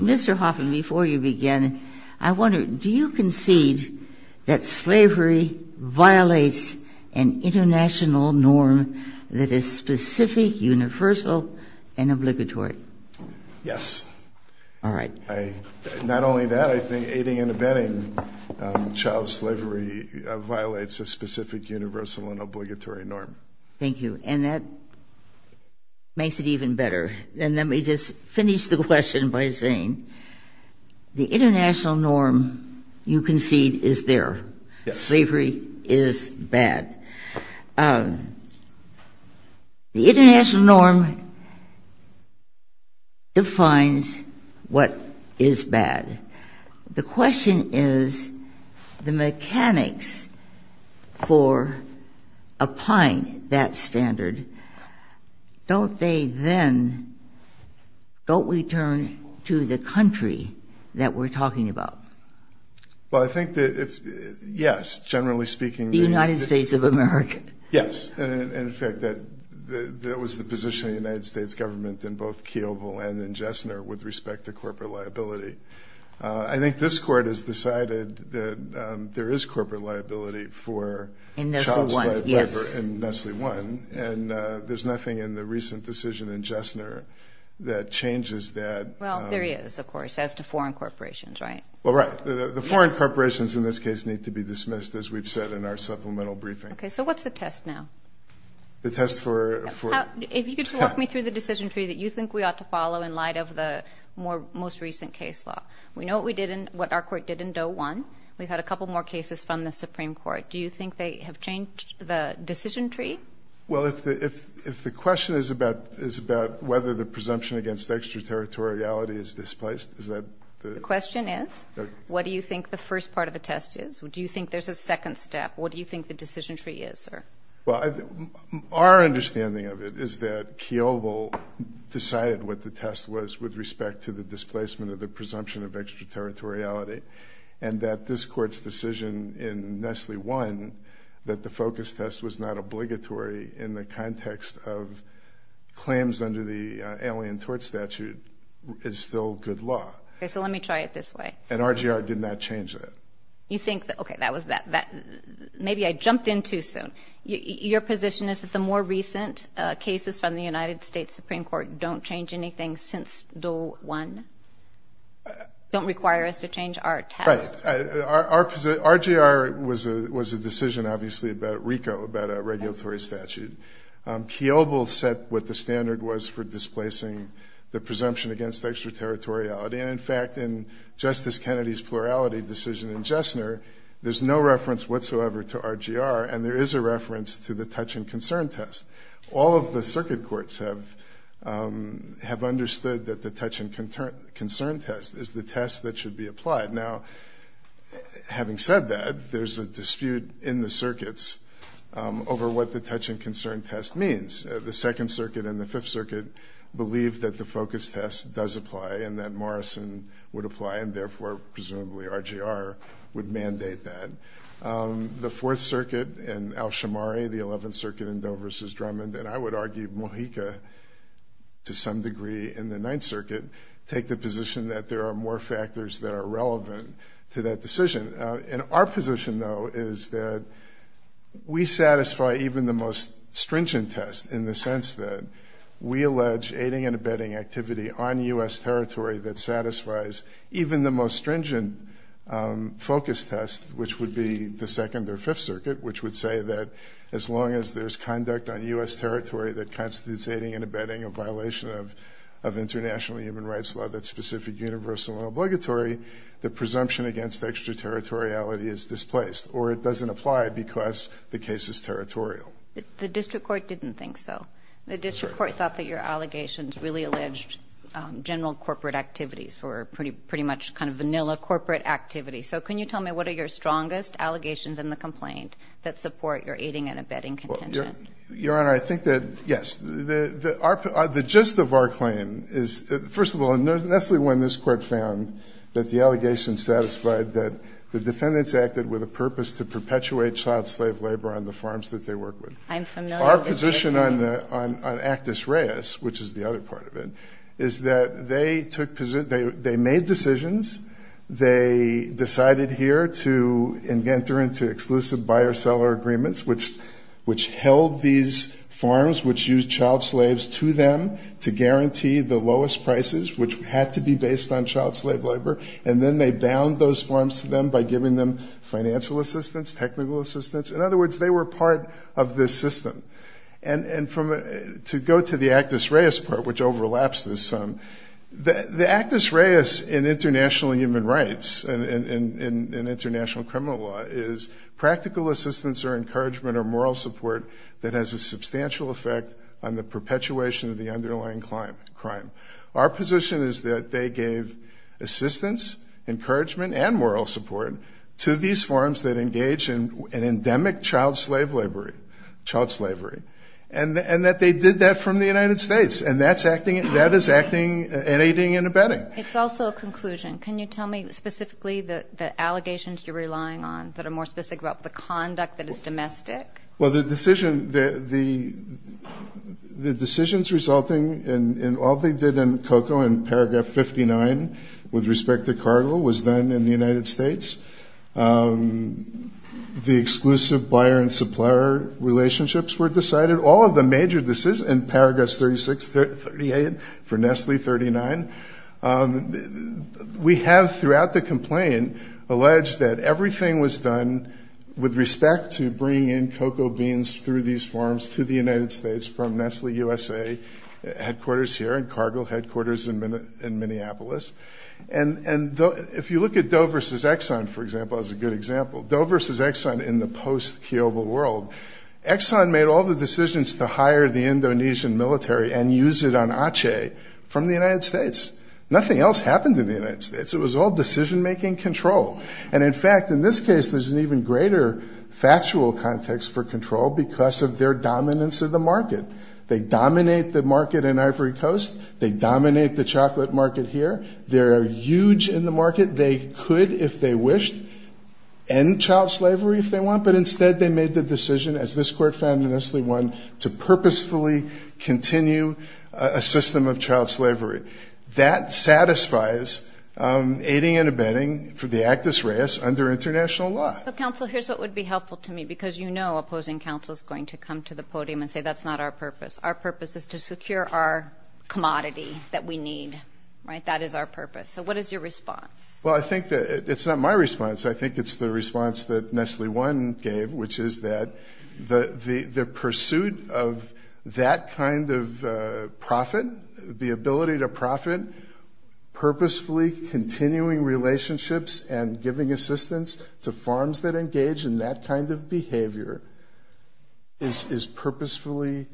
Mr. Hoffman, before you begin, I wonder, do you concede that slavery violates an international norm that is specific, universal, and obligatory? Yes. All right. Not only that, I think aiding and abetting child slavery violates a specific universal and obligatory norm. Thank you. And that makes it even better. And let me just finish the question by saying the international norm you concede is there. Yes. Slavery is bad. The international norm defines what is bad. The question is, the mechanics for applying that standard, don't they then, don't we turn to the country that we're talking about? Well, I think that if, yes, generally speaking... The United States of America. Yes. And, in fact, that was the position of the United States government in both Keogh and in Jessner with respect to corporate liability. I think this court has decided that there is corporate liability for child slavery in Nestle I. And there's nothing in the recent decision in Jessner that changes that. Well, there is, of course, as to foreign corporations, right? Well, right. The foreign corporations in this case need to be dismissed, as we've said in our supplemental briefing. Okay. So what's the test now? The test for... If you could just walk me through the decision tree that you think we ought to follow in light of the most recent case law. We know what our court did in Doe 1. We've had a couple more cases from the Supreme Court. Do you think they have changed the decision tree? Well, if the question is about whether the presumption against extraterritoriality is displaced, is that the... The question is, what do you think the first part of the test is? Do you think there's a second step? What do you think the decision tree is, sir? Well, our understanding of it is that Keovil decided what the test was with respect to the displacement of the presumption of extraterritoriality. And that this court's decision in Nestle I, that the focus test was not obligatory in the context of claims under the Alien Tort Statute, is still good law. Okay. So let me try it this way. And RGR did not change that. You think that... Okay, that was... Maybe I jumped in too soon. Your position is that the more recent cases from the United States Supreme Court don't change anything since Doe 1? Don't require us to change our test? Right. RGR was a decision, obviously, about RICO, about a regulatory statute. Keovil set what the standard was for displacing the presumption against extraterritoriality. And, in fact, in Justice Kennedy's plurality decision in Jessner, there's no reference whatsoever to RGR. And there is a reference to the touch and concern test. All of the circuit courts have understood that the touch and concern test is the test that should be applied. Now, having said that, there's a dispute in the circuits over what the touch and concern test means. The Second Circuit and the Fifth Circuit believe that the focus test does apply and that Morrison would apply, and therefore, presumably, RGR would mandate that. The Fourth Circuit and Al-Shamari, the Eleventh Circuit and Doe v. Drummond, and I would argue Mojica, to some degree, and the Ninth Circuit, take the position that there are more factors that are relevant to that decision. And our position, though, is that we satisfy even the most stringent test, in the sense that we allege aiding and abetting activity on U.S. territory that satisfies even the most stringent focus test, which would be the Second or Fifth Circuit, which would say that as long as there's conduct on U.S. territory that constitutes aiding and abetting a violation of international human rights law that's specific, universal, and obligatory, the presumption against extraterritoriality is displaced, or it doesn't apply because the case is territorial. The district court didn't think so. The district court thought that your allegations really alleged general corporate activities for pretty much kind of vanilla corporate activity. So can you tell me what are your strongest allegations in the complaint that support your aiding and abetting contention? Your Honor, I think that, yes, the gist of our claim is, first of all, not necessarily when this Court found that the allegations satisfied that the defendants acted with a purpose to perpetuate child slave labor on the farms that they work with. I'm familiar with that claim. Our position on Actus Reis, which is the other part of it, is that they made decisions. They decided here to enter into exclusive buyer-seller agreements, which held these farms, which used child slaves to them to guarantee the lowest prices, which had to be based on child slave labor. And then they bound those farms to them by giving them financial assistance, technical assistance. In other words, they were part of this system. And to go to the Actus Reis part, which overlaps this, the Actus Reis in international human rights and international criminal law is practical assistance or encouragement or moral support that has a substantial effect on the perpetuation of the underlying crime. Our position is that they gave assistance, encouragement, and moral support to these farms that engage in endemic child slave labor, child slavery, and that they did that from the United States. And that is acting and aiding and abetting. It's also a conclusion. Can you tell me specifically the allegations you're relying on that are more specific about the conduct that is domestic? Well, the decisions resulting in all they did in COCO in Paragraph 59 with respect to cargo was done in the United States. The exclusive buyer and supplier relationships were decided. All of the major decisions in Paragraphs 36, 38, for Nestle 39, we have throughout the complaint alleged that everything was done with respect to bringing in COCO beans through these farms to the United States from Nestle USA headquarters here and cargo headquarters in Minneapolis. And if you look at Doe versus Exxon, for example, as a good example, Doe versus Exxon in the post-Kiovo world, Exxon made all the decisions to hire the Indonesian military and use it on Aceh from the United States. Nothing else happened in the United States. It was all decision-making control. And, in fact, in this case, there's an even greater factual context for control because of their dominance of the market. They dominate the market in Ivory Coast. They dominate the chocolate market here. They're huge in the market. They could, if they wished, end child slavery if they want, but instead they made the decision, as this Court found in Nestle 1, to purposefully continue a system of child slavery. That satisfies aiding and abetting for the Actus Reis under international law. But, counsel, here's what would be helpful to me, because you know opposing counsel is going to come to the podium and say that's not our purpose. Our purpose is to secure our commodity that we need, right? That is our purpose. So what is your response? Well, I think that it's not my response. I think it's the response that Nestle 1 gave, which is that the pursuit of that kind of profit, the ability to profit, purposefully continuing relationships and giving assistance to farms that engage in that kind of behavior is purposefully...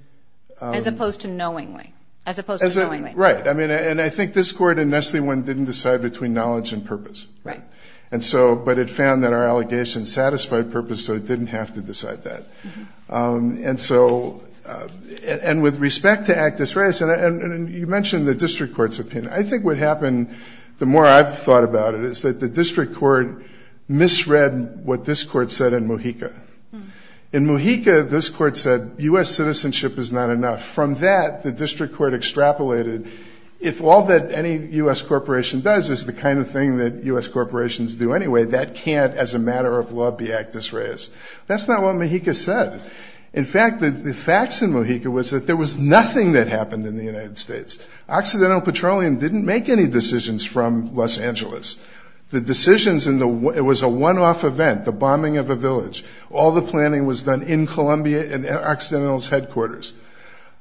As opposed to knowingly. As opposed to knowingly. Right. And I think this Court in Nestle 1 didn't decide between knowledge and purpose. Right. And so, but it found that our allegations satisfied purpose, so it didn't have to decide that. And so, and with respect to Actus Reis, and you mentioned the District Court's opinion, I think what happened, the more I've thought about it, is that the District Court misread what this Court said in Mojica. In Mojica, this Court said U.S. citizenship is not enough. From that, the District Court extrapolated, if all that any U.S. corporation does is the kind of thing that U.S. corporations do anyway, that can't, as a matter of law, be Actus Reis. That's not what Mojica said. In fact, the facts in Mojica was that there was nothing that happened in the United States. Occidental Petroleum didn't make any decisions from Los Angeles. The decisions in the, it was a one-off event, the bombing of a village. All the planning was done in Colombia in Occidental's headquarters.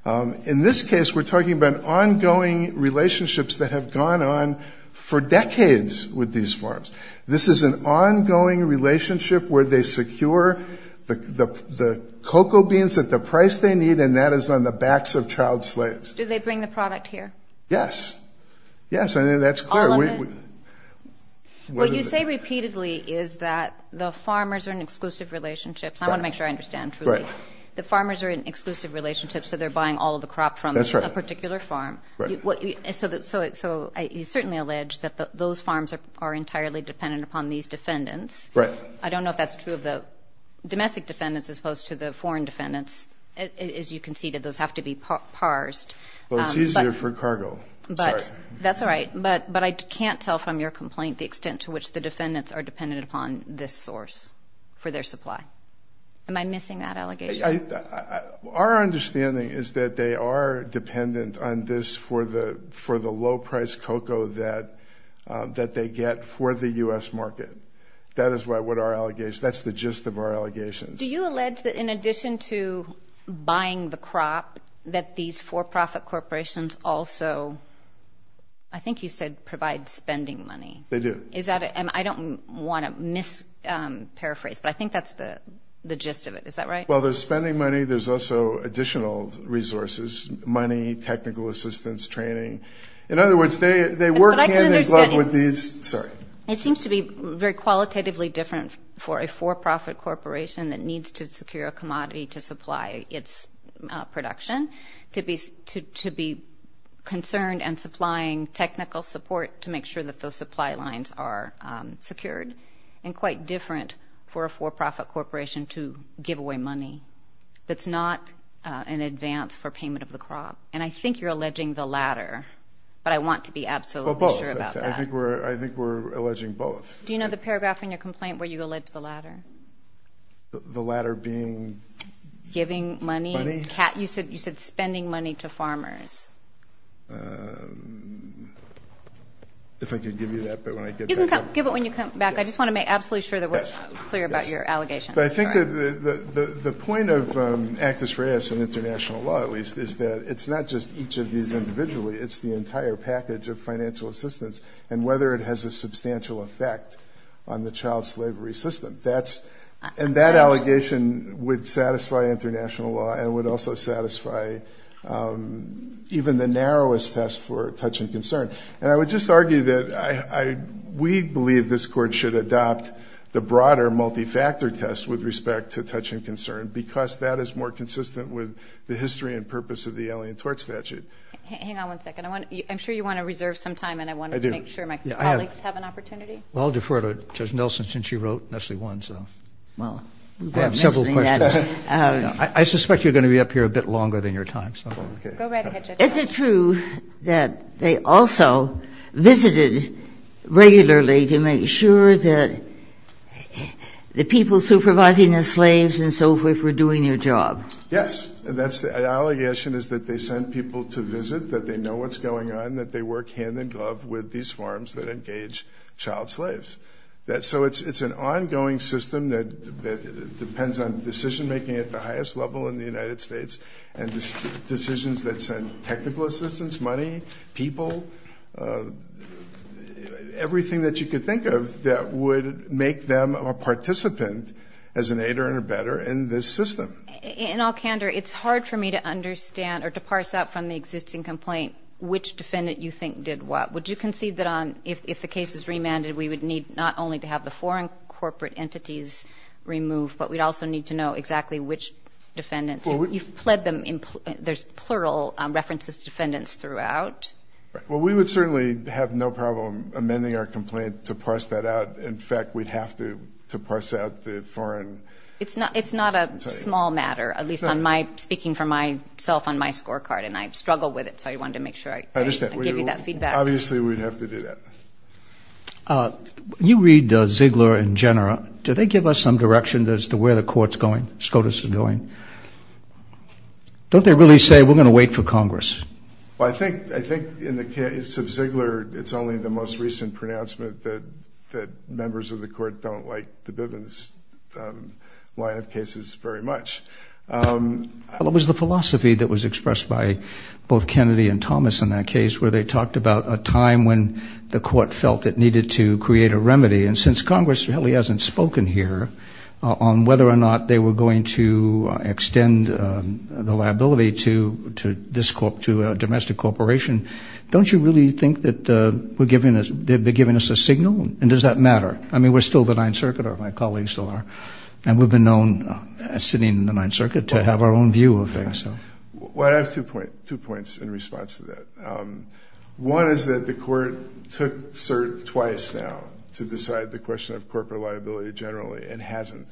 In this case, we're talking about ongoing relationships that have gone on for decades with these farms. This is an ongoing relationship where they secure the cocoa beans at the price they need, and that is on the backs of child slaves. Do they bring the product here? Yes, I think that's clear. All of it? What you say repeatedly is that the farmers are in exclusive relationships. I want to make sure I understand truly. Right. The farmers are in exclusive relationships, so they're buying all of the crop from a particular farm. Right. So you certainly allege that those farms are entirely dependent upon these defendants. Right. I don't know if that's true of the domestic defendants as opposed to the foreign defendants. As you conceded, those have to be parsed. Well, it's easier for cargo. Sorry. That's all right. But I can't tell from your complaint the extent to which the defendants are dependent upon this source for their supply. Am I missing that allegation? Our understanding is that they are dependent on this for the low-priced cocoa that they get for the U.S. market. That's the gist of our allegations. Do you allege that in addition to buying the crop, that these for-profit corporations also, I think you said provide spending money? They do. I don't want to mis-paraphrase, but I think that's the gist of it. Is that right? Well, there's spending money. There's also additional resources, money, technical assistance, training. In other words, they work hand in glove with these. Sorry. It seems to be very qualitatively different for a for-profit corporation that needs to secure a commodity to supply its production, to be concerned and supplying technical support to make sure that those supply lines are secured, and quite different for a for-profit corporation to give away money that's not in advance for payment of the crop. And I think you're alleging the latter, but I want to be absolutely sure about that. Well, both. I think we're alleging both. Do you know the paragraph in your complaint where you allege the latter? The latter being? Giving money? You said spending money to farmers. If I could give you that, but when I get back. You can give it when you come back. I just want to make absolutely sure that we're clear about your allegations. But I think the point of Actus Reis and international law, at least, is that it's not just each of these individually. It's the entire package of financial assistance and whether it has a substantial effect on the child slavery system. And that allegation would satisfy international law and would also satisfy even the narrowest test for touch and concern. And I would just argue that we believe this Court should adopt the broader, multi-factor test with respect to touch and concern because that is more consistent with the history and purpose of the Alien Tort Statute. Hang on one second. I'm sure you want to reserve some time, and I wanted to make sure my colleagues have an opportunity. Well, I'll defer to Judge Nelson since she wrote Nestle 1. Well, we've got several questions. I suspect you're going to be up here a bit longer than your time. Go right ahead, Judge. Is it true that they also visited regularly to make sure that the people supervising the slaves and so forth were doing their job? Yes. And that's the allegation is that they sent people to visit, that they know what's going on, and that they work hand-in-glove with these farms that engage child slaves. So it's an ongoing system that depends on decision-making at the highest level in the United States and decisions that send technical assistance, money, people, everything that you could think of that would make them a participant as an aider and a better in this system. In all candor, it's hard for me to understand or to parse out from the existing complaint which defendant you think did what. Would you concede that if the case is remanded, we would need not only to have the foreign corporate entities removed, but we'd also need to know exactly which defendants. You've pled them. There's plural references to defendants throughout. Well, we would certainly have no problem amending our complaint to parse that out. In fact, we'd have to parse out the foreign. It's not a small matter, at least speaking for myself on my scorecard, and I struggle with it, so I wanted to make sure I gave you that feedback. Obviously, we'd have to do that. When you read Ziegler and Jenner, do they give us some direction as to where the court's going, SCOTUS is going? Don't they really say, we're going to wait for Congress? Well, I think in the case of Ziegler, it's only the most recent pronouncement that members of the court don't like the Bivens line of cases very much. Well, it was the philosophy that was expressed by both Kennedy and Thomas in that case where they talked about a time when the court felt it needed to create a remedy, and since Congress really hasn't spoken here on whether or not they were going to extend the liability to a domestic corporation, don't you really think that they're giving us a signal, and does that matter? I mean, we're still the Ninth Circuit, or my colleagues still are, and we've been known as sitting in the Ninth Circuit to have our own view of things. Well, I have two points in response to that. One is that the court took cert twice now to decide the question of corporate liability generally and hasn't,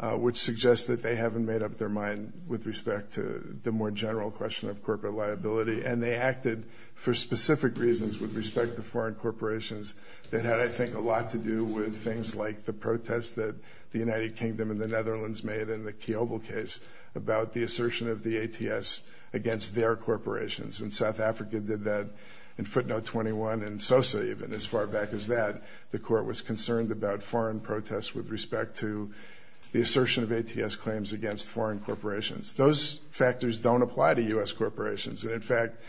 which suggests that they haven't made up their mind with respect to the more general question of corporate liability, and they acted for specific reasons with respect to foreign corporations that had, I think, a lot to do with things like the protest that the United Kingdom and the Netherlands made in the Kiobel case about the assertion of the ATS against their corporations, and South Africa did that in footnote 21, and Sosa even as far back as that. The court was concerned about foreign protests with respect to the assertion of ATS claims against foreign corporations. Those factors don't apply to U.S. corporations, and in fact,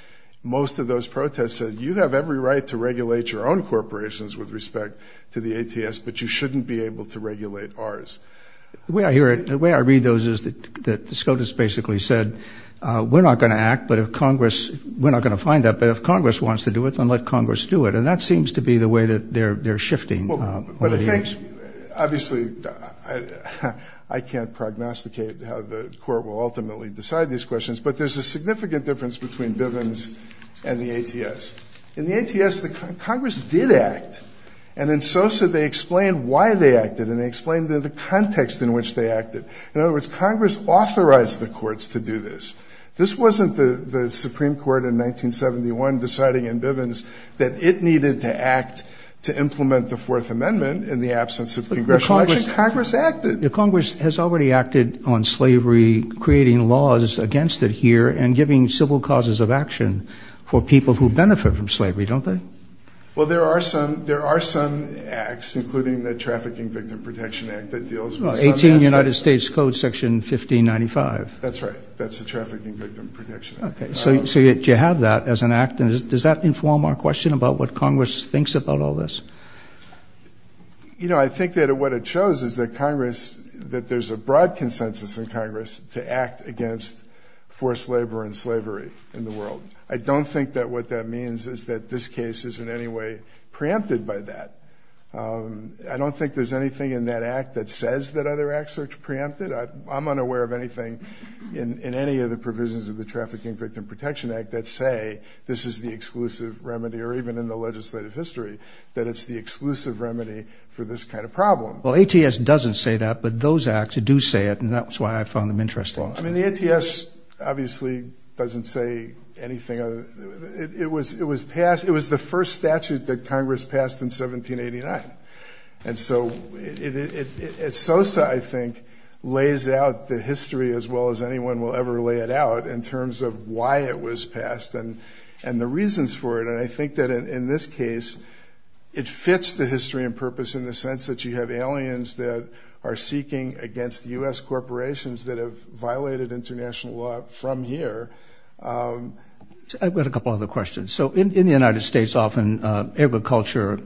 most of those protests said, you have every right to regulate your own corporations with respect to the ATS, but you shouldn't be able to regulate ours. The way I hear it, the way I read those is that the SCOTUS basically said, we're not going to act, but if Congress, we're not going to find that, but if Congress wants to do it, then let Congress do it, and that seems to be the way that they're shifting. Well, but I think, obviously, I can't prognosticate how the court will ultimately decide these questions, but there's a significant difference between Bivens and the ATS. In the ATS, Congress did act, and in Sosa, they explained why they acted, and they explained the context in which they acted. In other words, Congress authorized the courts to do this. This wasn't the Supreme Court in 1971 deciding in Bivens that it needed to act to implement the Fourth Amendment in the absence of congressional action. Congress acted. Congress has already acted on slavery, creating laws against it here, and giving civil causes of action for people who benefit from slavery, don't they? Well, there are some acts, including the Trafficking Victim Protection Act that deals with some of that stuff. Well, 18 United States Code, Section 1595. That's right. That's the Trafficking Victim Protection Act. Okay. So you have that as an act, and does that inform our question about what Congress thinks about all this? You know, I think that what it shows is that Congress, that there's a broad consensus in Congress to act against forced labor and slavery in the world. I don't think that what that means is that this case is in any way preempted by that. I don't think there's anything in that act that says that other acts are preempted. I'm unaware of anything in any of the provisions of the Trafficking Victim Protection Act that say this is the exclusive remedy, or even in the legislative history, that it's the exclusive remedy for this kind of problem. Well, ATS doesn't say that, but those acts do say it, and that's why I found them interesting. Well, I mean, the ATS obviously doesn't say anything. It was the first statute that Congress passed in 1789. And so SOSA, I think, lays out the history as well as anyone will ever lay it out in terms of why it was passed and the reasons for it. And I think that in this case, it fits the history and purpose in the sense that you have aliens that are seeking against U.S. corporations that have violated international law from here. I've got a couple other questions. So in the United States, often agriculture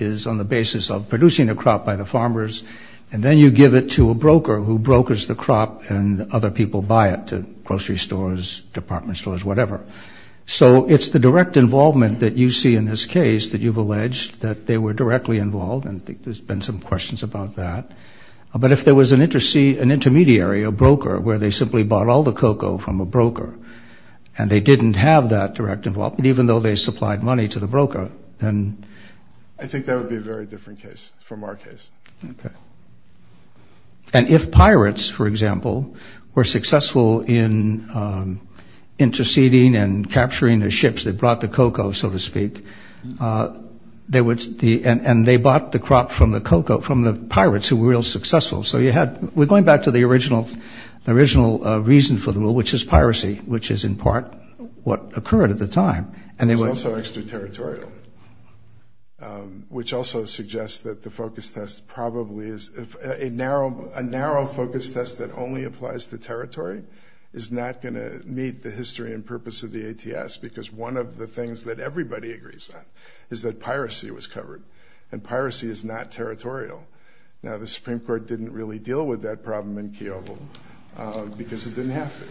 is on the basis of producing a crop by the farmers, and then you give it to a broker who brokers the crop, and other people buy it to grocery stores, department stores, whatever. So it's the direct involvement that you see in this case that you've alleged, that they were directly involved, and I think there's been some questions about that. But if there was an intermediary, a broker, where they simply bought all the cocoa from a broker and they didn't have that direct involvement, even though they supplied money to the broker, then? I think that would be a very different case from our case. Okay. And if pirates, for example, were successful in interceding and capturing the ships that brought the cocoa, so to speak, and they bought the crop from the pirates who were real successful. So we're going back to the original reason for the rule, which is piracy, which is in part what occurred at the time. It's also extraterritorial, which also suggests that the focus test probably is a narrow focus test that only applies to territory is not going to meet the history and purpose of the ATS, because one of the things that everybody agrees on is that piracy was covered, and piracy is not territorial. Now, the Supreme Court didn't really deal with that problem in Keogh because it didn't have to.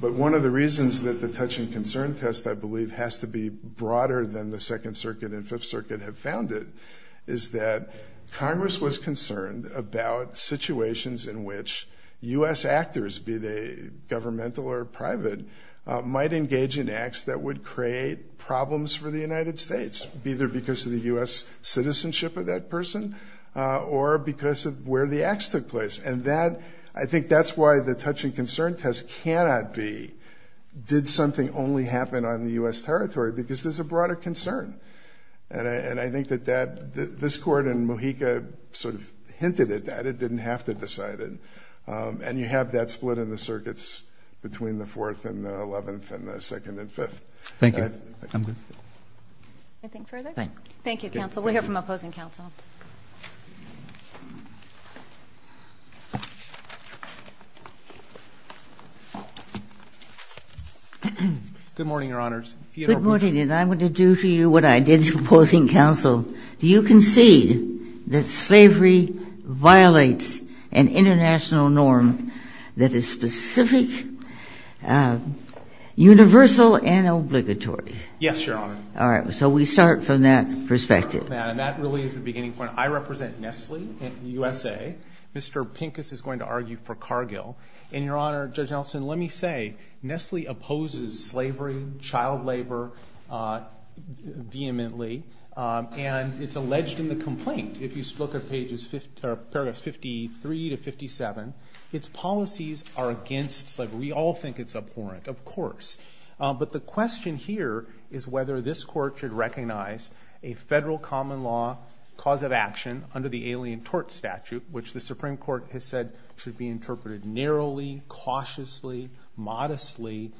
But one of the reasons that the touch and concern test, I believe, has to be broader than the Second Circuit and Fifth Circuit have found it is that Congress was concerned about situations in which U.S. actors, be they governmental or private, might engage in acts that would create problems for the United States, either because of the U.S. citizenship of that person or because of where the acts took place. And I think that's why the touch and concern test cannot be did something only happen on the U.S. territory, because there's a broader concern. And I think that this Court in Mojica sort of hinted at that. It didn't have to decide it. And you have that split in the circuits between the Fourth and the Eleventh and the Second and Fifth. Thank you. Anything further? Thank you, counsel. We'll hear from opposing counsel. Good morning, Your Honors. Good morning. And I want to do for you what I did to opposing counsel. Do you concede that slavery violates an international norm that is specific, universal, and obligatory? Yes, Your Honor. All right. So we start from that perspective. Madam, that really is the beginning point. I represent Nestle in the USA. Mr. Pincus is going to argue for Cargill. And, Your Honor, Judge Nelson, let me say Nestle opposes slavery, child labor vehemently, and it's alleged in the complaint, if you look at paragraphs 53 to 57, its policies are against slavery. We all think it's abhorrent, of course. But the question here is whether this Court should recognize a federal common law cause of action under the Alien Tort Statute, which the Supreme Court has said should be interpreted narrowly, cautiously, modestly,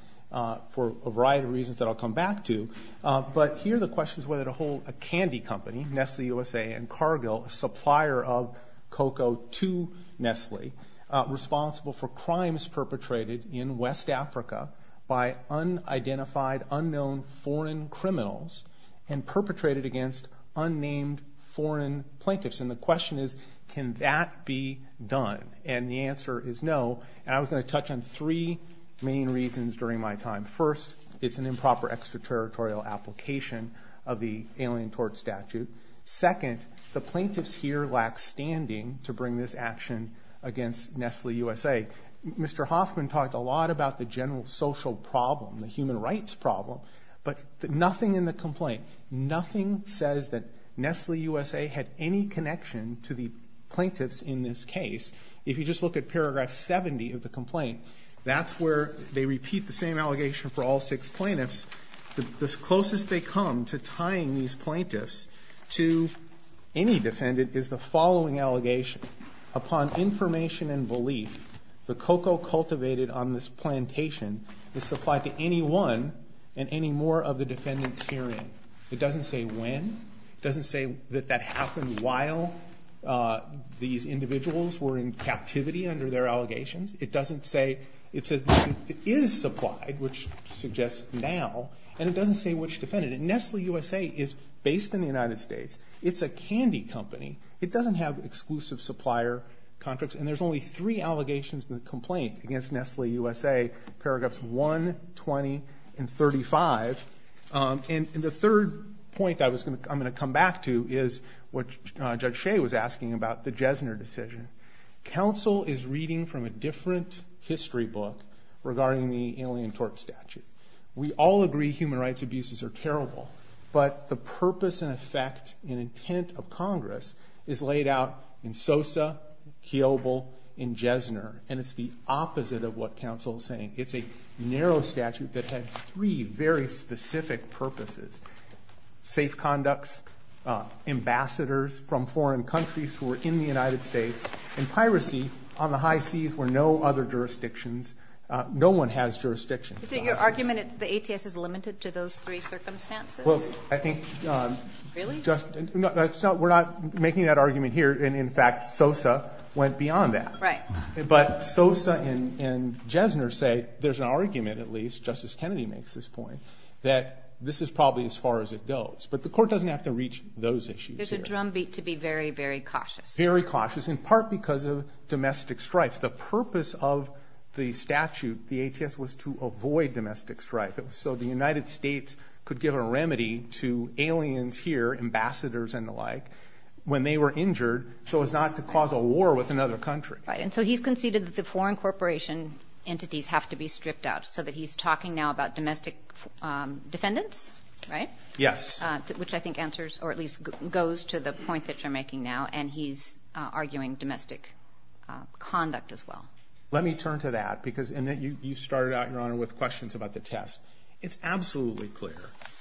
for a variety of reasons that I'll come back to. But here the question is whether to hold a candy company, Nestle USA and Cargill, a supplier of cocoa to Nestle, responsible for crimes perpetrated in West Africa by unidentified, unknown foreign criminals and perpetrated against unnamed foreign plaintiffs. And the question is, can that be done? And the answer is no. And I was going to touch on three main reasons during my time. First, it's an improper extraterritorial application of the Alien Tort Statute. Second, the plaintiffs here lack standing to bring this action against Nestle USA. Mr. Hoffman talked a lot about the general social problem, the human rights problem, but nothing in the complaint, nothing says that Nestle USA had any connection to the plaintiffs in this case. If you just look at paragraph 70 of the complaint, that's where they repeat the same allegation for all six plaintiffs. The closest they come to tying these plaintiffs to any defendant is the following allegation. Upon information and belief, the cocoa cultivated on this plantation is supplied to anyone and any more of the defendants herein. It doesn't say when. It doesn't say that that happened while these individuals were in captivity under their allegations. It doesn't say it is supplied, which suggests now, and it doesn't say which defendant. And Nestle USA is based in the United States. It's a candy company. It doesn't have exclusive supplier contracts. And there's only three allegations in the complaint against Nestle USA, paragraphs 1, 20, and 35. And the third point I'm going to come back to is what Judge Shea was asking about the Jesner decision. Counsel is reading from a different history book regarding the Alien Tort Statute. We all agree human rights abuses are terrible, but the purpose and effect and intent of Congress is laid out in Sosa, Kiobel, and Jesner, and it's the opposite of what counsel is saying. It's a narrow statute that had three very specific purposes, safe conducts, ambassadors from foreign countries who were in the United States, and piracy on the high seas where no other jurisdictions, no one has jurisdictions. So your argument is the ATS is limited to those three circumstances? Well, I think just, we're not making that argument here, and in fact Sosa went beyond that. Right. But Sosa and Jesner say, there's an argument at least, Justice Kennedy makes this point, that this is probably as far as it goes. But the court doesn't have to reach those issues. There's a drumbeat to be very, very cautious. Very cautious, in part because of domestic strife. The purpose of the statute, the ATS, was to avoid domestic strife. So the United States could give a remedy to aliens here, ambassadors and the like, when they were injured so as not to cause a war with another country. Right, and so he's conceded that the foreign corporation entities have to be stripped out so that he's talking now about domestic defendants, right? Yes. Which I think answers, or at least goes to the point that you're making now, and he's arguing domestic conduct as well. Let me turn to that because, and you started out, Your Honor, with questions about the test. It's absolutely clear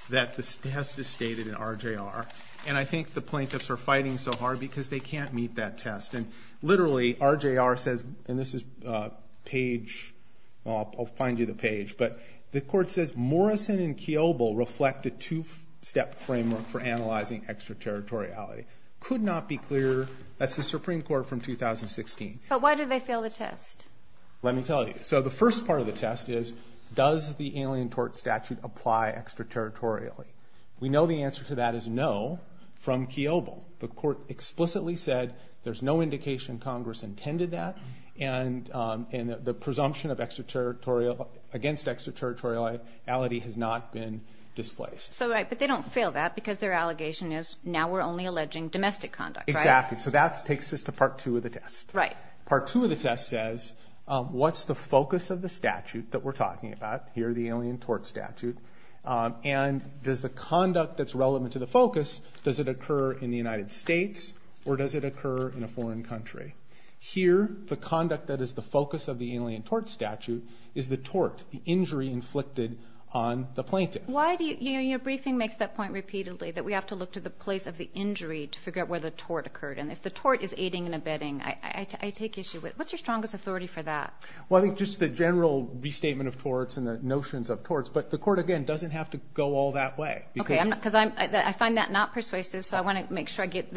that the test is stated in RJR, and I think the plaintiffs are fighting so hard because they can't meet that test. And literally, RJR says, and this is page, well, I'll find you the page, but the court says, Morrison and Kiobel reflect a two-step framework for analyzing extraterritoriality. Could not be clearer. That's the Supreme Court from 2016. But why did they fail the test? Let me tell you. So the first part of the test is, does the Alien Tort Statute apply extraterritorially? We know the answer to that is no from Kiobel. The court explicitly said there's no indication Congress intended that, and the presumption against extraterritoriality has not been displaced. So, right, but they don't fail that because their allegation is, now we're only alleging domestic conduct, right? Exactly. So that takes us to Part 2 of the test. Right. Part 2 of the test says, what's the focus of the statute that we're talking about, here the Alien Tort Statute, and does the conduct that's relevant to the focus, does it occur in the United States or does it occur in a foreign country? Here, the conduct that is the focus of the Alien Tort Statute is the tort, the injury inflicted on the plaintiff. Why do you, your briefing makes that point repeatedly, that we have to look to the place of the injury to figure out where the tort occurred, and if the tort is aiding and abetting, I take issue with, what's your strongest authority for that? Well, I think just the general restatement of torts and the notions of torts, but the court, again, doesn't have to go all that way. Okay, because I find that not persuasive, so I want to make sure I get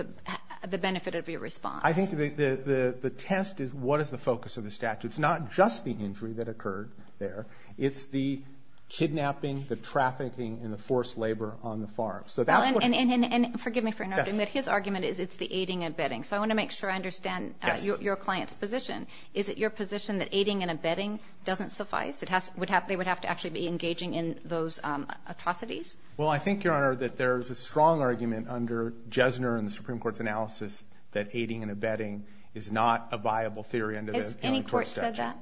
the benefit of your response. I think the test is, what is the focus of the statute? It's not just the injury that occurred there, it's the kidnapping, the trafficking, and the forced labor on the farm. And forgive me for interrupting, but his argument is it's the aiding and abetting, so I want to make sure I understand your client's position. Is it your position that aiding and abetting doesn't suffice? They would have to actually be engaging in those atrocities? Well, I think, Your Honor, that there is a strong argument under Jesner and the Supreme Court's analysis that aiding and abetting is not a viable theory under the appeal in court statute. Has any court said that?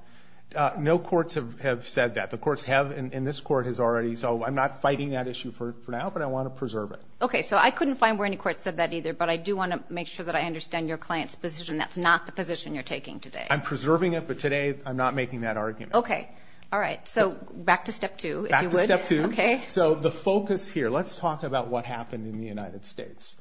No courts have said that. The courts have, and this court has already, so I'm not fighting that issue for now, but I want to preserve it. Okay, so I couldn't find where any court said that either, but I do want to make sure that I understand your client's position. I'm preserving it, but today I'm not making that argument. Okay, all right. So back to step two, if you would. Back to step two. Okay. So the focus here, let's talk about what happened in the United States.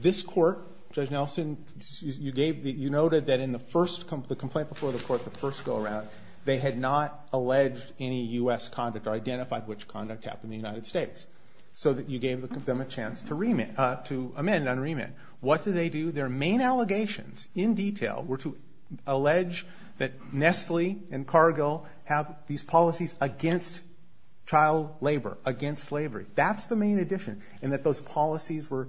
This court, Judge Nelson, you noted that in the complaint before the court, the first go-around, they had not alleged any U.S. conduct or identified which conduct happened in the United States, so that you gave them a chance to amend on remand. What did they do? Their main allegations, in detail, were to allege that Nestle and Cargo have these policies against child labor, against slavery. That's the main addition, and that those policies were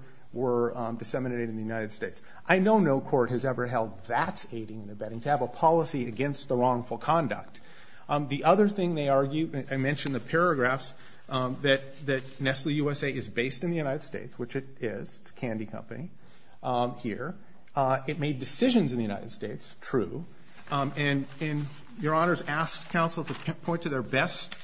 disseminated in the United States. I know no court has ever held that aiding and abetting, to have a policy against the wrongful conduct. The other thing they argued, I mentioned the paragraphs that Nestle USA is based in the United States, which it is, it's a candy company here. It made decisions in the United States, true, and Your Honors asked counsel to point to their best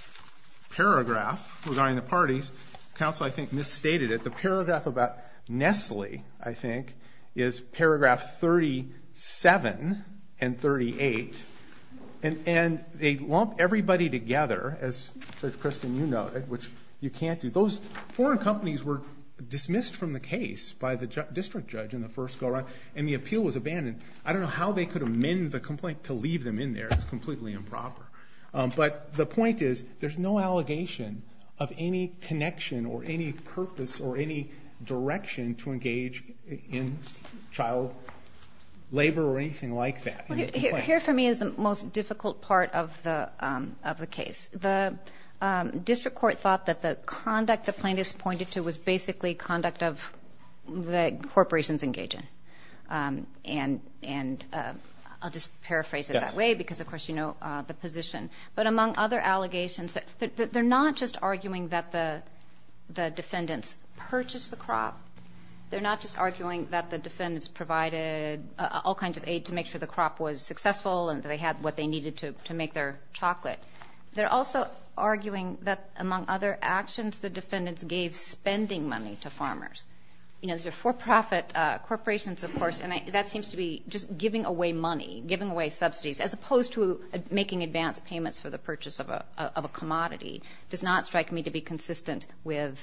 paragraph, regarding the parties. Counsel, I think, misstated it. The paragraph about Nestle, I think, is paragraph 37 and 38, and they lump everybody together, as Judge Christin, you noted, which you can't do. Those foreign companies were dismissed from the case by the district judge in the first go-around, and the appeal was abandoned. I don't know how they could amend the complaint to leave them in there. It's completely improper. But the point is, there's no allegation of any connection or any purpose or any direction to engage in child labor or anything like that. Here, for me, is the most difficult part of the case. The district court thought that the conduct the plaintiffs pointed to was basically conduct that corporations engage in. And I'll just paraphrase it that way because, of course, you know the position. But among other allegations, they're not just arguing that the defendants purchased the crop. They're not just arguing that the defendants provided all kinds of aid to make sure the crop was successful and that they had what they needed to make their chocolate. They're also arguing that, among other actions, the defendants gave spending money to farmers. These are for-profit corporations, of course, and that seems to be just giving away money, giving away subsidies, as opposed to making advance payments for the purchase of a commodity. It does not strike me to be consistent with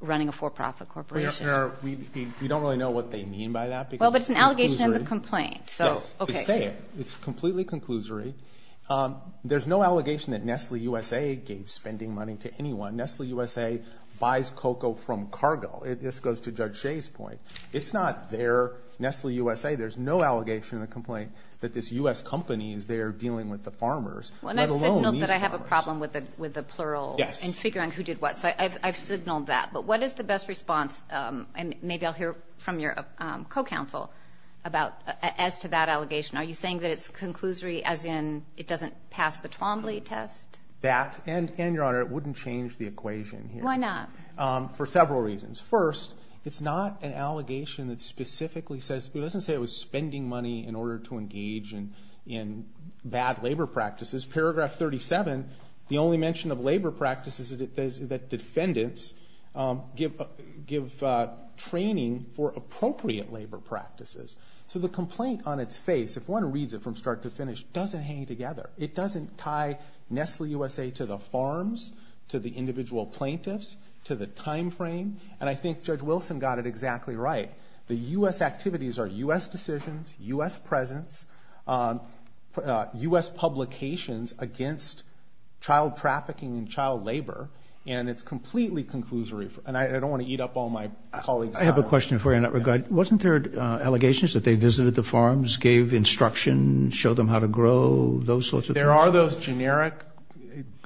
running a for-profit corporation. We don't really know what they mean by that. Well, but it's an allegation in the complaint. Yes. They say it. It's completely conclusory. There's no allegation that Nestle USA gave spending money to anyone. Nestle USA buys cocoa from cargo. This goes to Judge Shea's point. It's not their Nestle USA. There's no allegation in the complaint that this U.S. company is there dealing with the farmers, let alone these farmers. Well, and I've signaled that I have a problem with the plural. Yes. In figuring who did what. So I've signaled that. But what is the best response? And maybe I'll hear from your co-counsel as to that allegation. Are you saying that it's conclusory as in it doesn't pass the Twombly test? That and, Your Honor, it wouldn't change the equation here. Why not? For several reasons. First, it's not an allegation that specifically says, it doesn't say it was spending money in order to engage in bad labor practices. Paragraph 37, the only mention of labor practices is that defendants give training for appropriate labor practices. So the complaint on its face, if one reads it from start to finish, doesn't hang together. It doesn't tie Nestle USA to the farms, to the individual plaintiffs, to the time frame. And I think Judge Wilson got it exactly right. The U.S. activities are U.S. decisions, U.S. presence, U.S. publications against child trafficking and child labor, and it's completely conclusory. And I don't want to eat up all my colleagues' time. I have a question for you in that regard. Wasn't there allegations that they visited the farms, gave instruction, showed them how to grow, those sorts of things? There are those generic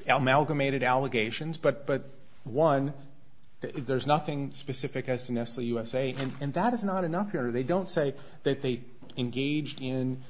amalgamated allegations. But, one, there's nothing specific as to Nestle USA. And that is not enough, Your Honor. They don't say that they engaged in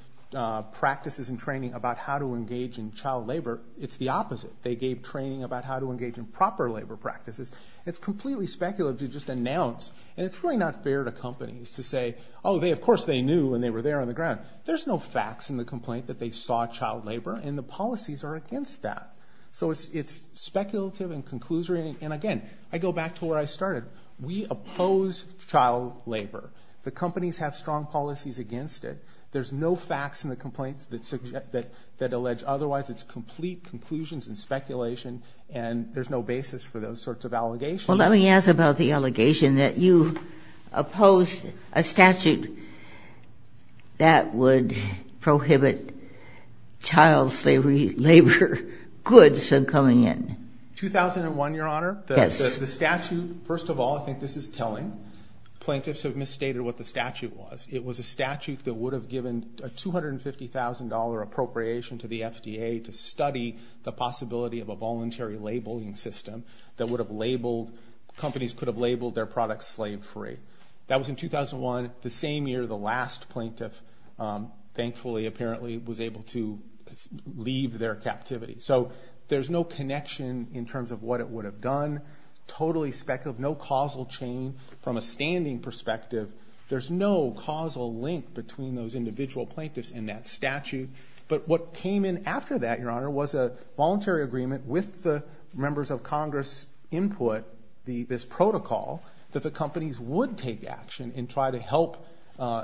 practices and training about how to engage in child labor. It's the opposite. They gave training about how to engage in proper labor practices. It's completely speculative to just announce. And it's really not fair to companies to say, oh, of course they knew when they were there on the ground. There's no facts in the complaint that they saw child labor, and the policies are against that. So it's speculative and conclusory. And, again, I go back to where I started. We oppose child labor. The companies have strong policies against it. There's no facts in the complaints that allege otherwise. It's complete conclusions and speculation, and there's no basis for those sorts of allegations. Well, let me ask about the allegation that you opposed a statute that would prohibit child labor goods from coming in. 2001, Your Honor. Yes. The statute, first of all, I think this is telling. Plaintiffs have misstated what the statute was. It was a statute that would have given a $250,000 appropriation to the FDA to study the possibility of a voluntary labeling system that would have labeled companies could have labeled their products slave free. That was in 2001, the same year the last plaintiff, thankfully, apparently was able to leave their captivity. So there's no connection in terms of what it would have done, totally speculative, no causal chain from a standing perspective. There's no causal link between those individual plaintiffs and that statute. But what came in after that, Your Honor, was a voluntary agreement with the members of Congress input, this protocol that the companies would take action and try to help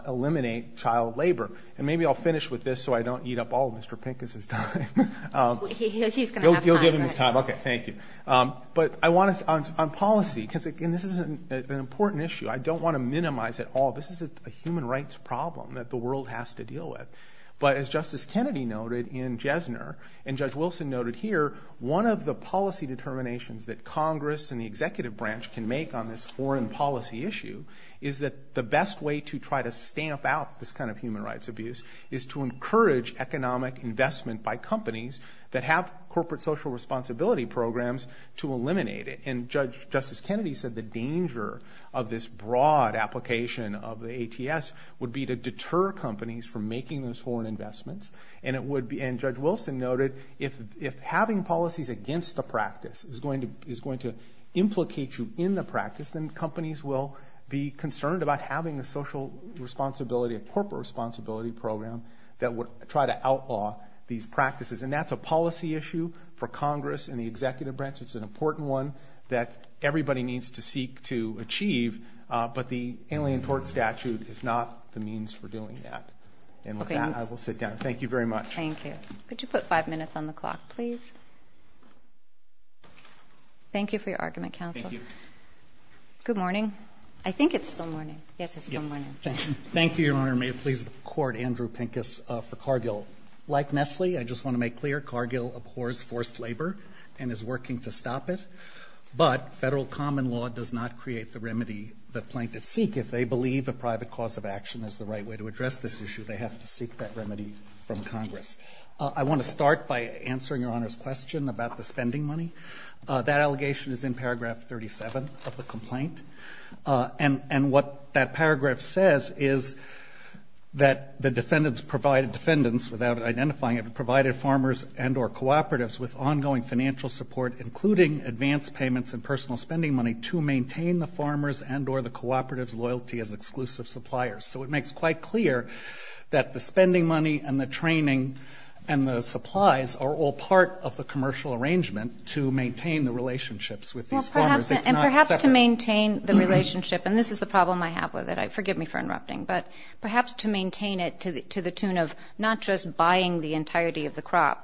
eliminate child labor. And maybe I'll finish with this so I don't eat up all of Mr. Pincus' time. He's going to have time. You'll give him his time. Okay, thank you. But I want to, on policy, and this is an important issue, I don't want to minimize it all. This is a human rights problem that the world has to deal with. But as Justice Kennedy noted in Jesner, and Judge Wilson noted here, one of the policy determinations that Congress and the executive branch can make on this foreign policy issue is that the best way to try to stamp out this kind of human rights abuse is to encourage economic investment by companies that have corporate social responsibility programs to eliminate it. And Justice Kennedy said the danger of this broad application of the ATS would be to deter companies from making those foreign investments. And it would be, and Judge Wilson noted, if having policies against the practice is going to implicate you in the practice, then companies will be concerned about having a social responsibility, a corporate responsibility program that would try to outlaw these practices. And that's a policy issue for Congress and the executive branch. It's an important one that everybody needs to seek to achieve. But the Alien Tort Statute is not the means for doing that. And with that, I will sit down. Thank you very much. Thank you. Could you put five minutes on the clock, please? Thank you for your argument, counsel. Thank you. Good morning. I think it's still morning. Yes, it's still morning. Thank you, Your Honor. May it please the Court, Andrew Pincus for Cargill. Like Nestle, I just want to make clear, Cargill abhors forced labor and is working to stop it. But federal common law does not create the remedy that plaintiffs seek. If they believe a private cause of action is the right way to address this issue, they have to seek that remedy from Congress. I want to start by answering Your Honor's question about the spending money. That allegation is in paragraph 37 of the complaint. And what that paragraph says is that the defendants provided, defendants without identifying them, provided farmers and or cooperatives with ongoing financial support, including advanced payments and personal spending money, to maintain the farmers and or the cooperatives' loyalty as exclusive suppliers. So it makes quite clear that the spending money and the training and the supplies are all part of the commercial arrangement to maintain the relationships with these farmers. It's not separate. And perhaps to maintain the relationship, and this is the problem I have with it, forgive me for interrupting, but perhaps to maintain it to the tune of not just buying the entirety of the farm,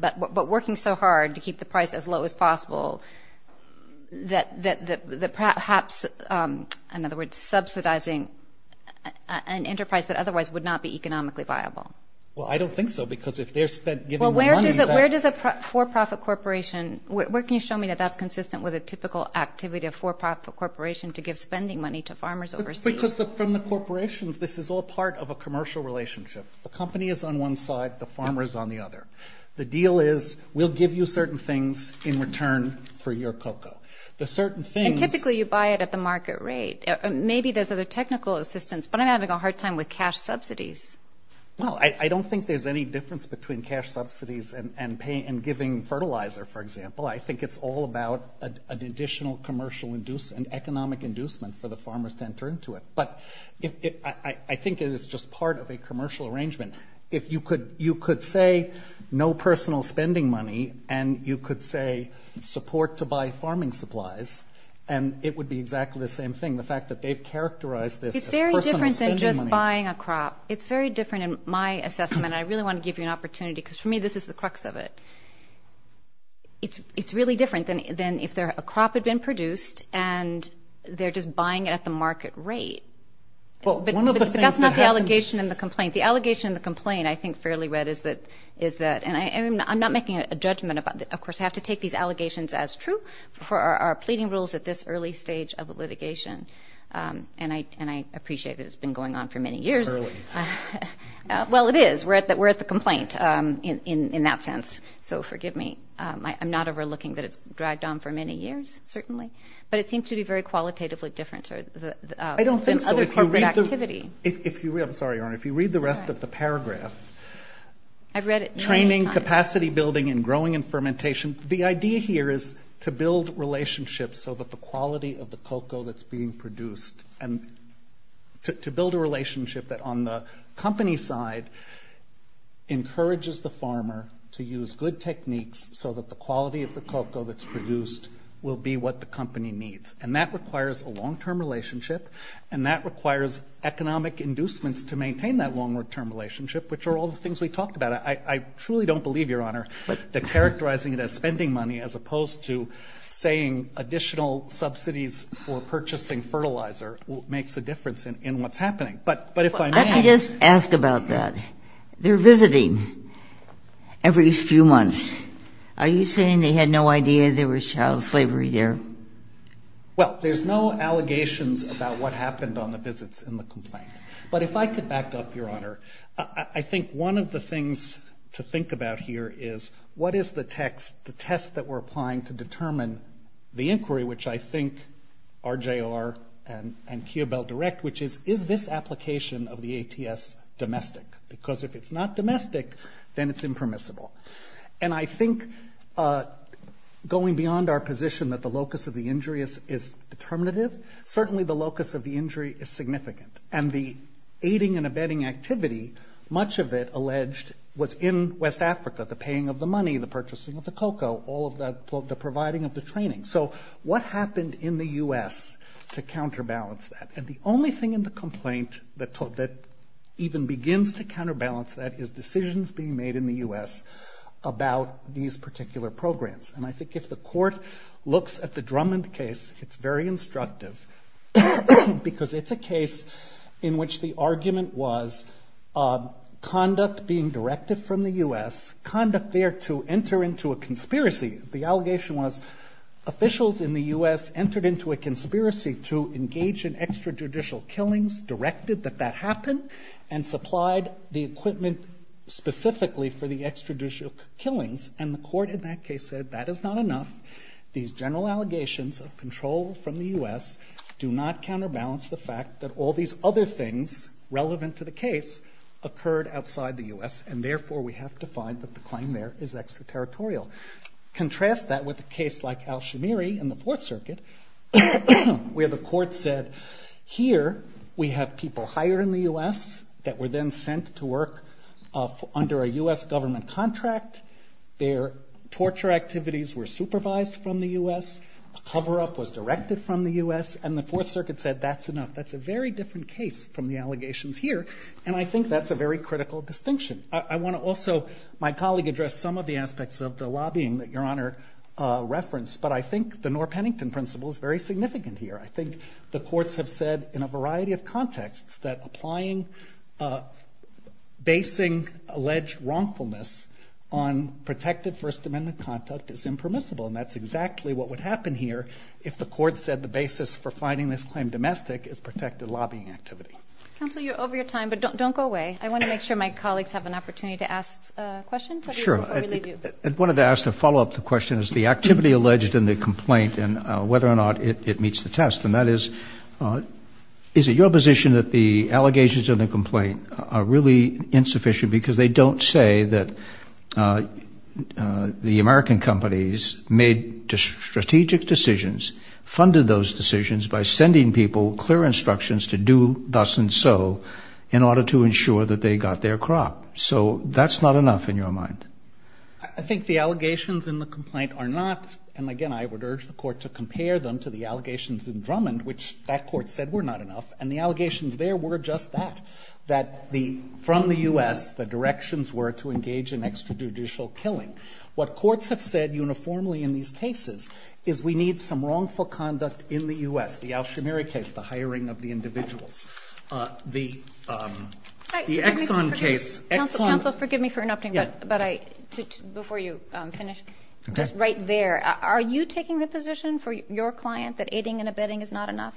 but to keep the price as low as possible. That perhaps, in other words, subsidizing an enterprise that otherwise would not be economically viable. Well, I don't think so. Because if they're giving money to that. Well, where does a for-profit corporation, where can you show me that that's consistent with a typical activity of for-profit corporation to give spending money to farmers overseas? Because from the corporation, this is all part of a commercial relationship. The company is on one side, the farmer is on the other. The deal is we'll give you certain things in return for your cocoa. The certain things. And typically you buy it at the market rate. Maybe there's other technical assistance, but I'm having a hard time with cash subsidies. Well, I don't think there's any difference between cash subsidies and giving fertilizer, for example. I think it's all about an additional commercial and economic inducement for the farmers to enter into it. But I think it is just part of a commercial arrangement. If you could say no personal spending money and you could say support to buy farming supplies, and it would be exactly the same thing. The fact that they've characterized this as personal spending money. It's very different than just buying a crop. It's very different in my assessment, and I really want to give you an opportunity, because for me this is the crux of it. It's really different than if a crop had been produced and they're just buying it at the market rate. But that's not the allegation in the complaint. The allegation in the complaint I think fairly read is that, and I'm not making a judgment about this. Of course, I have to take these allegations as true for our pleading rules at this early stage of litigation. And I appreciate that it's been going on for many years. Early. Well, it is. We're at the complaint in that sense. So forgive me. I'm not overlooking that it's dragged on for many years, certainly. But it seems to be very qualitatively different than other corporate activity. I'm sorry, Your Honor. If you read the rest of the paragraph, training, capacity building, and growing and fermentation, the idea here is to build relationships so that the quality of the cocoa that's being produced and to build a relationship that on the company side encourages the farmer to use good techniques so that the quality of the cocoa that's produced will be what the company needs. And that requires a long-term relationship, and that requires economic inducements to maintain that long-term relationship, which are all the things we talked about. I truly don't believe, Your Honor, that characterizing it as spending money as opposed to saying additional subsidies for purchasing fertilizer makes a difference in what's happening. But if I may ask. I could just ask about that. They're visiting every few months. Are you saying they had no idea there was child slavery there? Well, there's no allegations about what happened on the visits in the complaint. But if I could back up, Your Honor. I think one of the things to think about here is what is the text, the test that we're applying to determine the inquiry, which I think RJR and Kia Bell Direct, which is, is this application of the ATS domestic? Because if it's not domestic, then it's impermissible. And I think going beyond our position that the locus of the injury is determinative, certainly the locus of the injury is significant. And the aiding and abetting activity, much of it alleged was in West Africa, the paying of the money, the purchasing of the cocoa, all of the providing of the training. So what happened in the U.S. to counterbalance that? And the only thing in the complaint that even begins to counterbalance that is decisions being made in the U.S. about these particular programs. And I think if the court looks at the Drummond case, it's very instructive because it's a case in which the argument was conduct being directed from the U.S., conduct there to enter into a conspiracy. The allegation was officials in the U.S. entered into a conspiracy to engage in extrajudicial killings, directed that that happen, and supplied the equipment specifically for the extrajudicial killings. And the court in that case said that is not enough. These general allegations of control from the U.S. do not counterbalance the fact that all these other things relevant to the case occurred outside the U.S., and therefore we have to find that the claim there is extraterritorial. Contrast that with a case like Alshamiri in the Fourth Circuit, where the court said here we have people hired in the U.S. that were then sent to work under a U.S. government contract, their torture activities were supervised from the U.S., the cover-up was directed from the U.S., and the Fourth Circuit said that's enough. That's a very different case from the allegations here, and I think that's a very critical distinction. I want to also, my colleague addressed some of the aspects of the lobbying that Your Honor referenced, but I think the Norr-Pennington principle is very significant here. I think the courts have said in a variety of contexts that applying basing alleged wrongfulness on protected First Amendment conduct is impermissible, and that's exactly what would happen here if the court said the basis for finding this claim domestic is protected lobbying activity. Counsel, you're over your time, but don't go away. I want to make sure my colleagues have an opportunity to ask questions. Sure. I wanted to ask, to follow up the question, is the activity alleged in the complaint and whether or not it meets the test, and that is, is it your position that the allegations in the complaint are really insufficient because they don't say that the American companies made strategic decisions, funded those decisions by sending people clear instructions to do thus and so in order to ensure that they got their crop. So that's not enough in your mind? I think the allegations in the complaint are not, and again I would urge the Court to compare them to the allegations in Drummond, which that Court said were not enough, and the allegations there were just that, that from the U.S. the directions were to engage in extrajudicial killing. What courts have said uniformly in these cases is we need some wrongful conduct in the U.S., the Alshamiri case, the hiring of the individuals. The Exxon case, Exxon. Counsel, forgive me for interrupting, but I, before you finish, just right there. Are you taking the position for your client that aiding and abetting is not enough?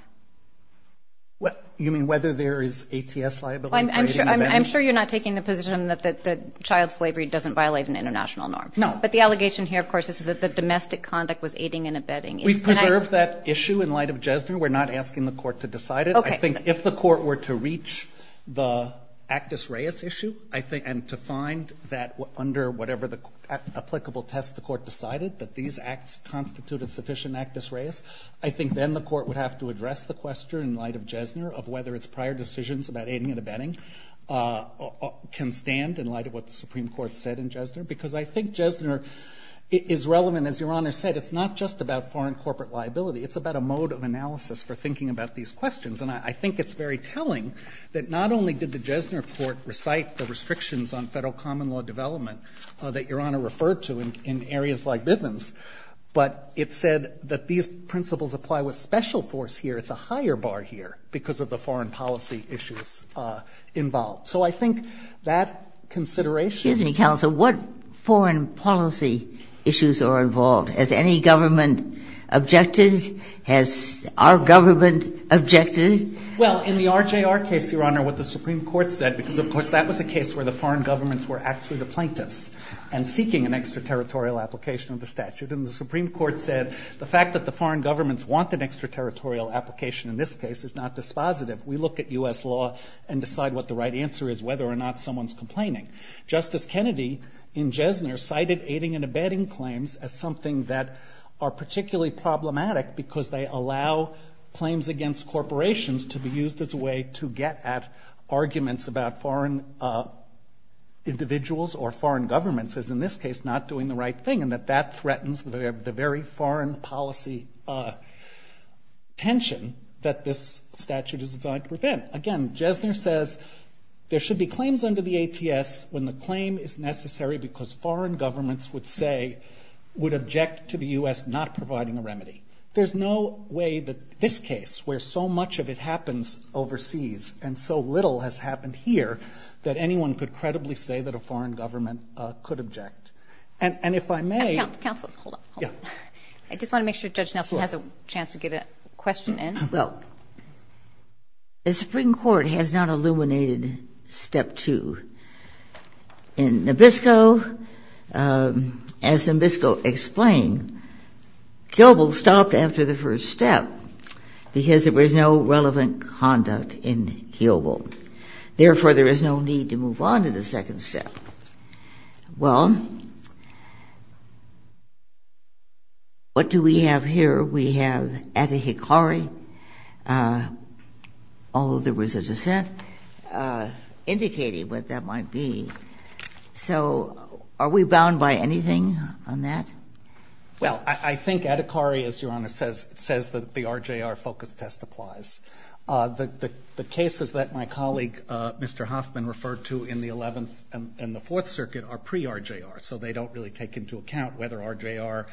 You mean whether there is ATS liability? I'm sure you're not taking the position that child slavery doesn't violate an international norm. No. But the allegation here, of course, is that the domestic conduct was aiding and abetting. We've preserved that issue in light of Jesner. We're not asking the Court to decide it. I think if the Court were to reach the Actus Reis issue, and to find that under whatever applicable test the Court decided that these acts constituted sufficient Actus Reis, I think then the Court would have to address the question in light of Jesner of whether its prior decisions about aiding and abetting can stand in light of what the Supreme Court said in Jesner, because I think Jesner is relevant. As Your Honor said, it's not just about foreign corporate liability. It's about a mode of analysis for thinking about these questions, and I think it's very telling that not only did the Jesner Court recite the restrictions on Federal common law development that Your Honor referred to in areas like Bivens, but it said that these principles apply with special force here. It's a higher bar here because of the foreign policy issues involved. So I think that consideration. Ginsburg, what foreign policy issues are involved? Has any government objected? Has our government objected? Well, in the RJR case, Your Honor, what the Supreme Court said, because of course that was a case where the foreign governments were actually the plaintiffs and seeking an extraterritorial application of the statute, and the Supreme Court said the fact that the foreign governments want an extraterritorial application in this case is not dispositive. We look at U.S. law and decide what the right answer is, whether or not someone's complaining. Justice Kennedy in Jesner cited aiding and abetting claims as something that are particularly problematic because they allow claims against corporations to be used as a way to get at arguments about foreign individuals or foreign governments as in this case not doing the right thing, and that that threatens the very foreign policy tension that this statute is designed to prevent. Again, Jesner says there should be claims under the ATS when the claim is necessary because foreign governments would object to the U.S. not providing a remedy. There's no way that this case, where so much of it happens overseas and so little has happened here, that anyone could credibly say that a foreign government could object. And if I may... Counsel, hold on. Yeah. I just want to make sure Judge Nelson has a chance to get a question in. Well, the Supreme Court has not illuminated Step 2. In Nabisco, as Nabisco explained, Kiobel stopped after the first step because there was no relevant conduct in Kiobel. Therefore, there is no need to move on to the second step. Well, what do we have here? We have Adhikari, although there was a dissent, indicating what that might be. So are we bound by anything on that? Well, I think Adhikari, as Your Honor says, says that the RJR focus test applies. The cases that my colleague, Mr. Hoffman, referred to in the Eleventh and the Fourth Circuit are pre-RJR, so they don't really take into account whether RJR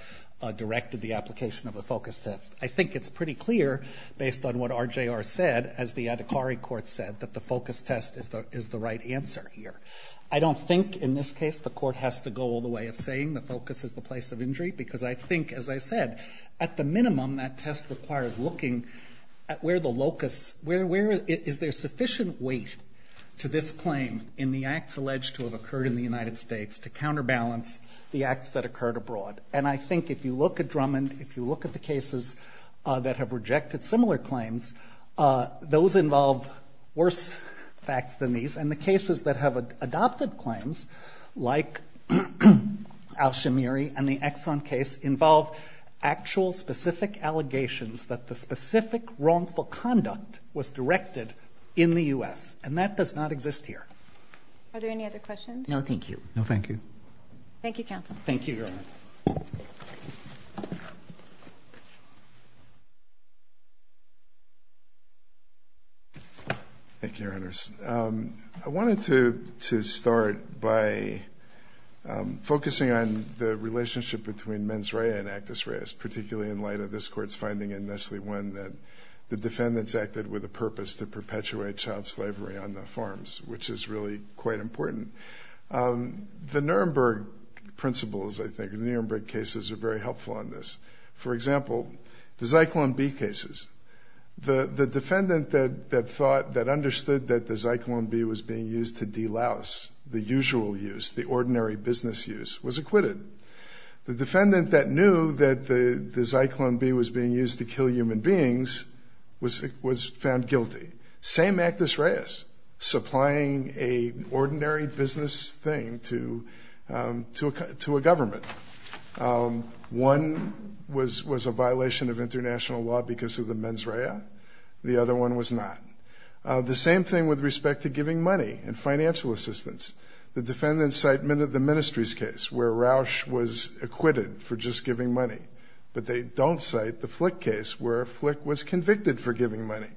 directed the application of a focus test. I think it's pretty clear, based on what RJR said, as the Adhikari court said, that the focus test is the right answer here. I don't think, in this case, the court has to go all the way of saying the focus is the place of injury, because I think, as I said, at the minimum, that test requires looking at where the locus, where is there sufficient weight to this claim in the acts alleged to have occurred in the United States to counterbalance the acts that occurred abroad. And I think if you look at Drummond, if you look at the cases that have rejected similar claims, those involve worse facts than these. And the cases that have adopted claims, like Al-Shamiri and the Exxon case, involve actual specific allegations that the specific wrongful conduct was directed in the U.S., and that does not exist here. Are there any other questions? No, thank you. No, thank you. Thank you, counsel. Thank you, Your Honor. Thank you, Your Honors. I wanted to start by focusing on the relationship between mens rea and actus rea, particularly in light of this Court's finding in Nestle 1 that the defendants acted with a purpose to perpetuate child slavery on the farms, which is really quite important. The Nuremberg principles, I think, the Nuremberg cases are very helpful on this. For example, the Zyklon B cases, the defendant that understood that the Zyklon B was being used to de-louse the usual use, the ordinary business use, was acquitted. The defendant that knew that the Zyklon B was being used to kill human beings was found guilty. Same actus reas, supplying an ordinary business thing to a government. One was a violation of international law because of the mens rea. The other one was not. The same thing with respect to giving money and financial assistance. The defendants cite the Ministries case where Rausch was acquitted for just giving money, but they don't cite the Flick case where Flick was convicted for giving money,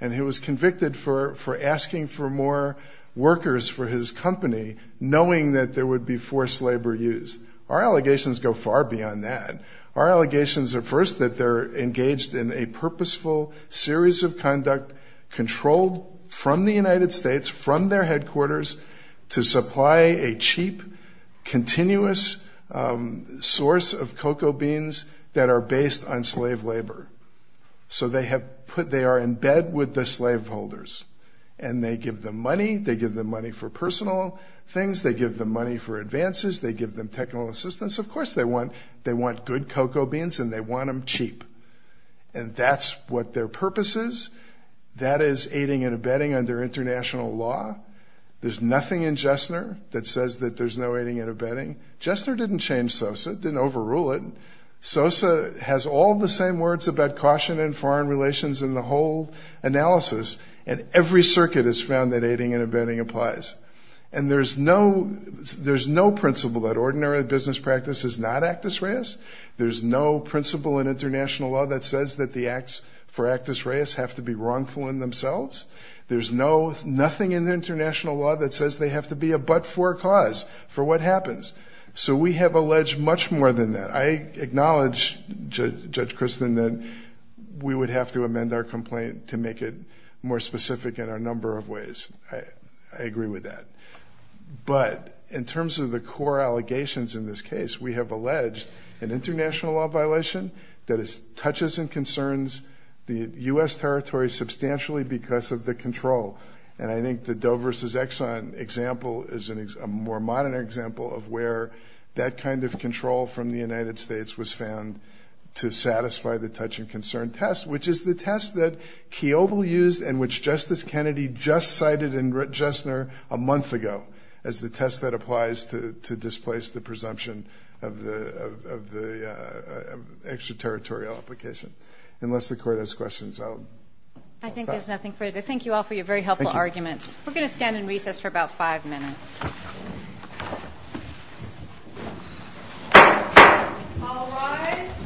and he was convicted for asking for more workers for his company, knowing that there would be forced labor used. Our allegations go far beyond that. Our allegations are first that they're engaged in a purposeful series of conduct, controlled from the United States, from their headquarters, to supply a cheap, continuous source of cocoa beans that are based on slave labor. So they are in bed with the slaveholders, and they give them money. They give them money for personal things. They give them money for advances. They give them technical assistance. Of course they want good cocoa beans, and they want them cheap, and that's what their purpose is. That is aiding and abetting under international law. There's nothing in Jessner that says that there's no aiding and abetting. Jessner didn't change SOSA. It didn't overrule it. SOSA has all the same words about caution and foreign relations in the whole analysis, and every circuit has found that aiding and abetting applies. And there's no principle that ordinary business practice is not actus reus. There's no principle in international law that says that the acts for actus reus have to be wrongful in themselves. There's nothing in international law that says they have to be a but-for cause for what happens. So we have alleged much more than that. I acknowledge, Judge Christin, that we would have to amend our complaint to make it more specific in a number of ways. I agree with that. But in terms of the core allegations in this case, we have alleged an international law violation that touches and concerns the U.S. territory substantially because of the control. And I think the Doe versus Exxon example is a more modern example of where that kind of control from the United States was found to satisfy the touch-and-concern test, which is the test that Kiobel used and which Justice Kennedy just cited in Justner a month ago as the test that applies to displace the presumption of the extraterritorial application. Unless the Court has questions, I'll stop. I think there's nothing further. Thank you all for your very helpful arguments. We're going to stand in recess for about five minutes.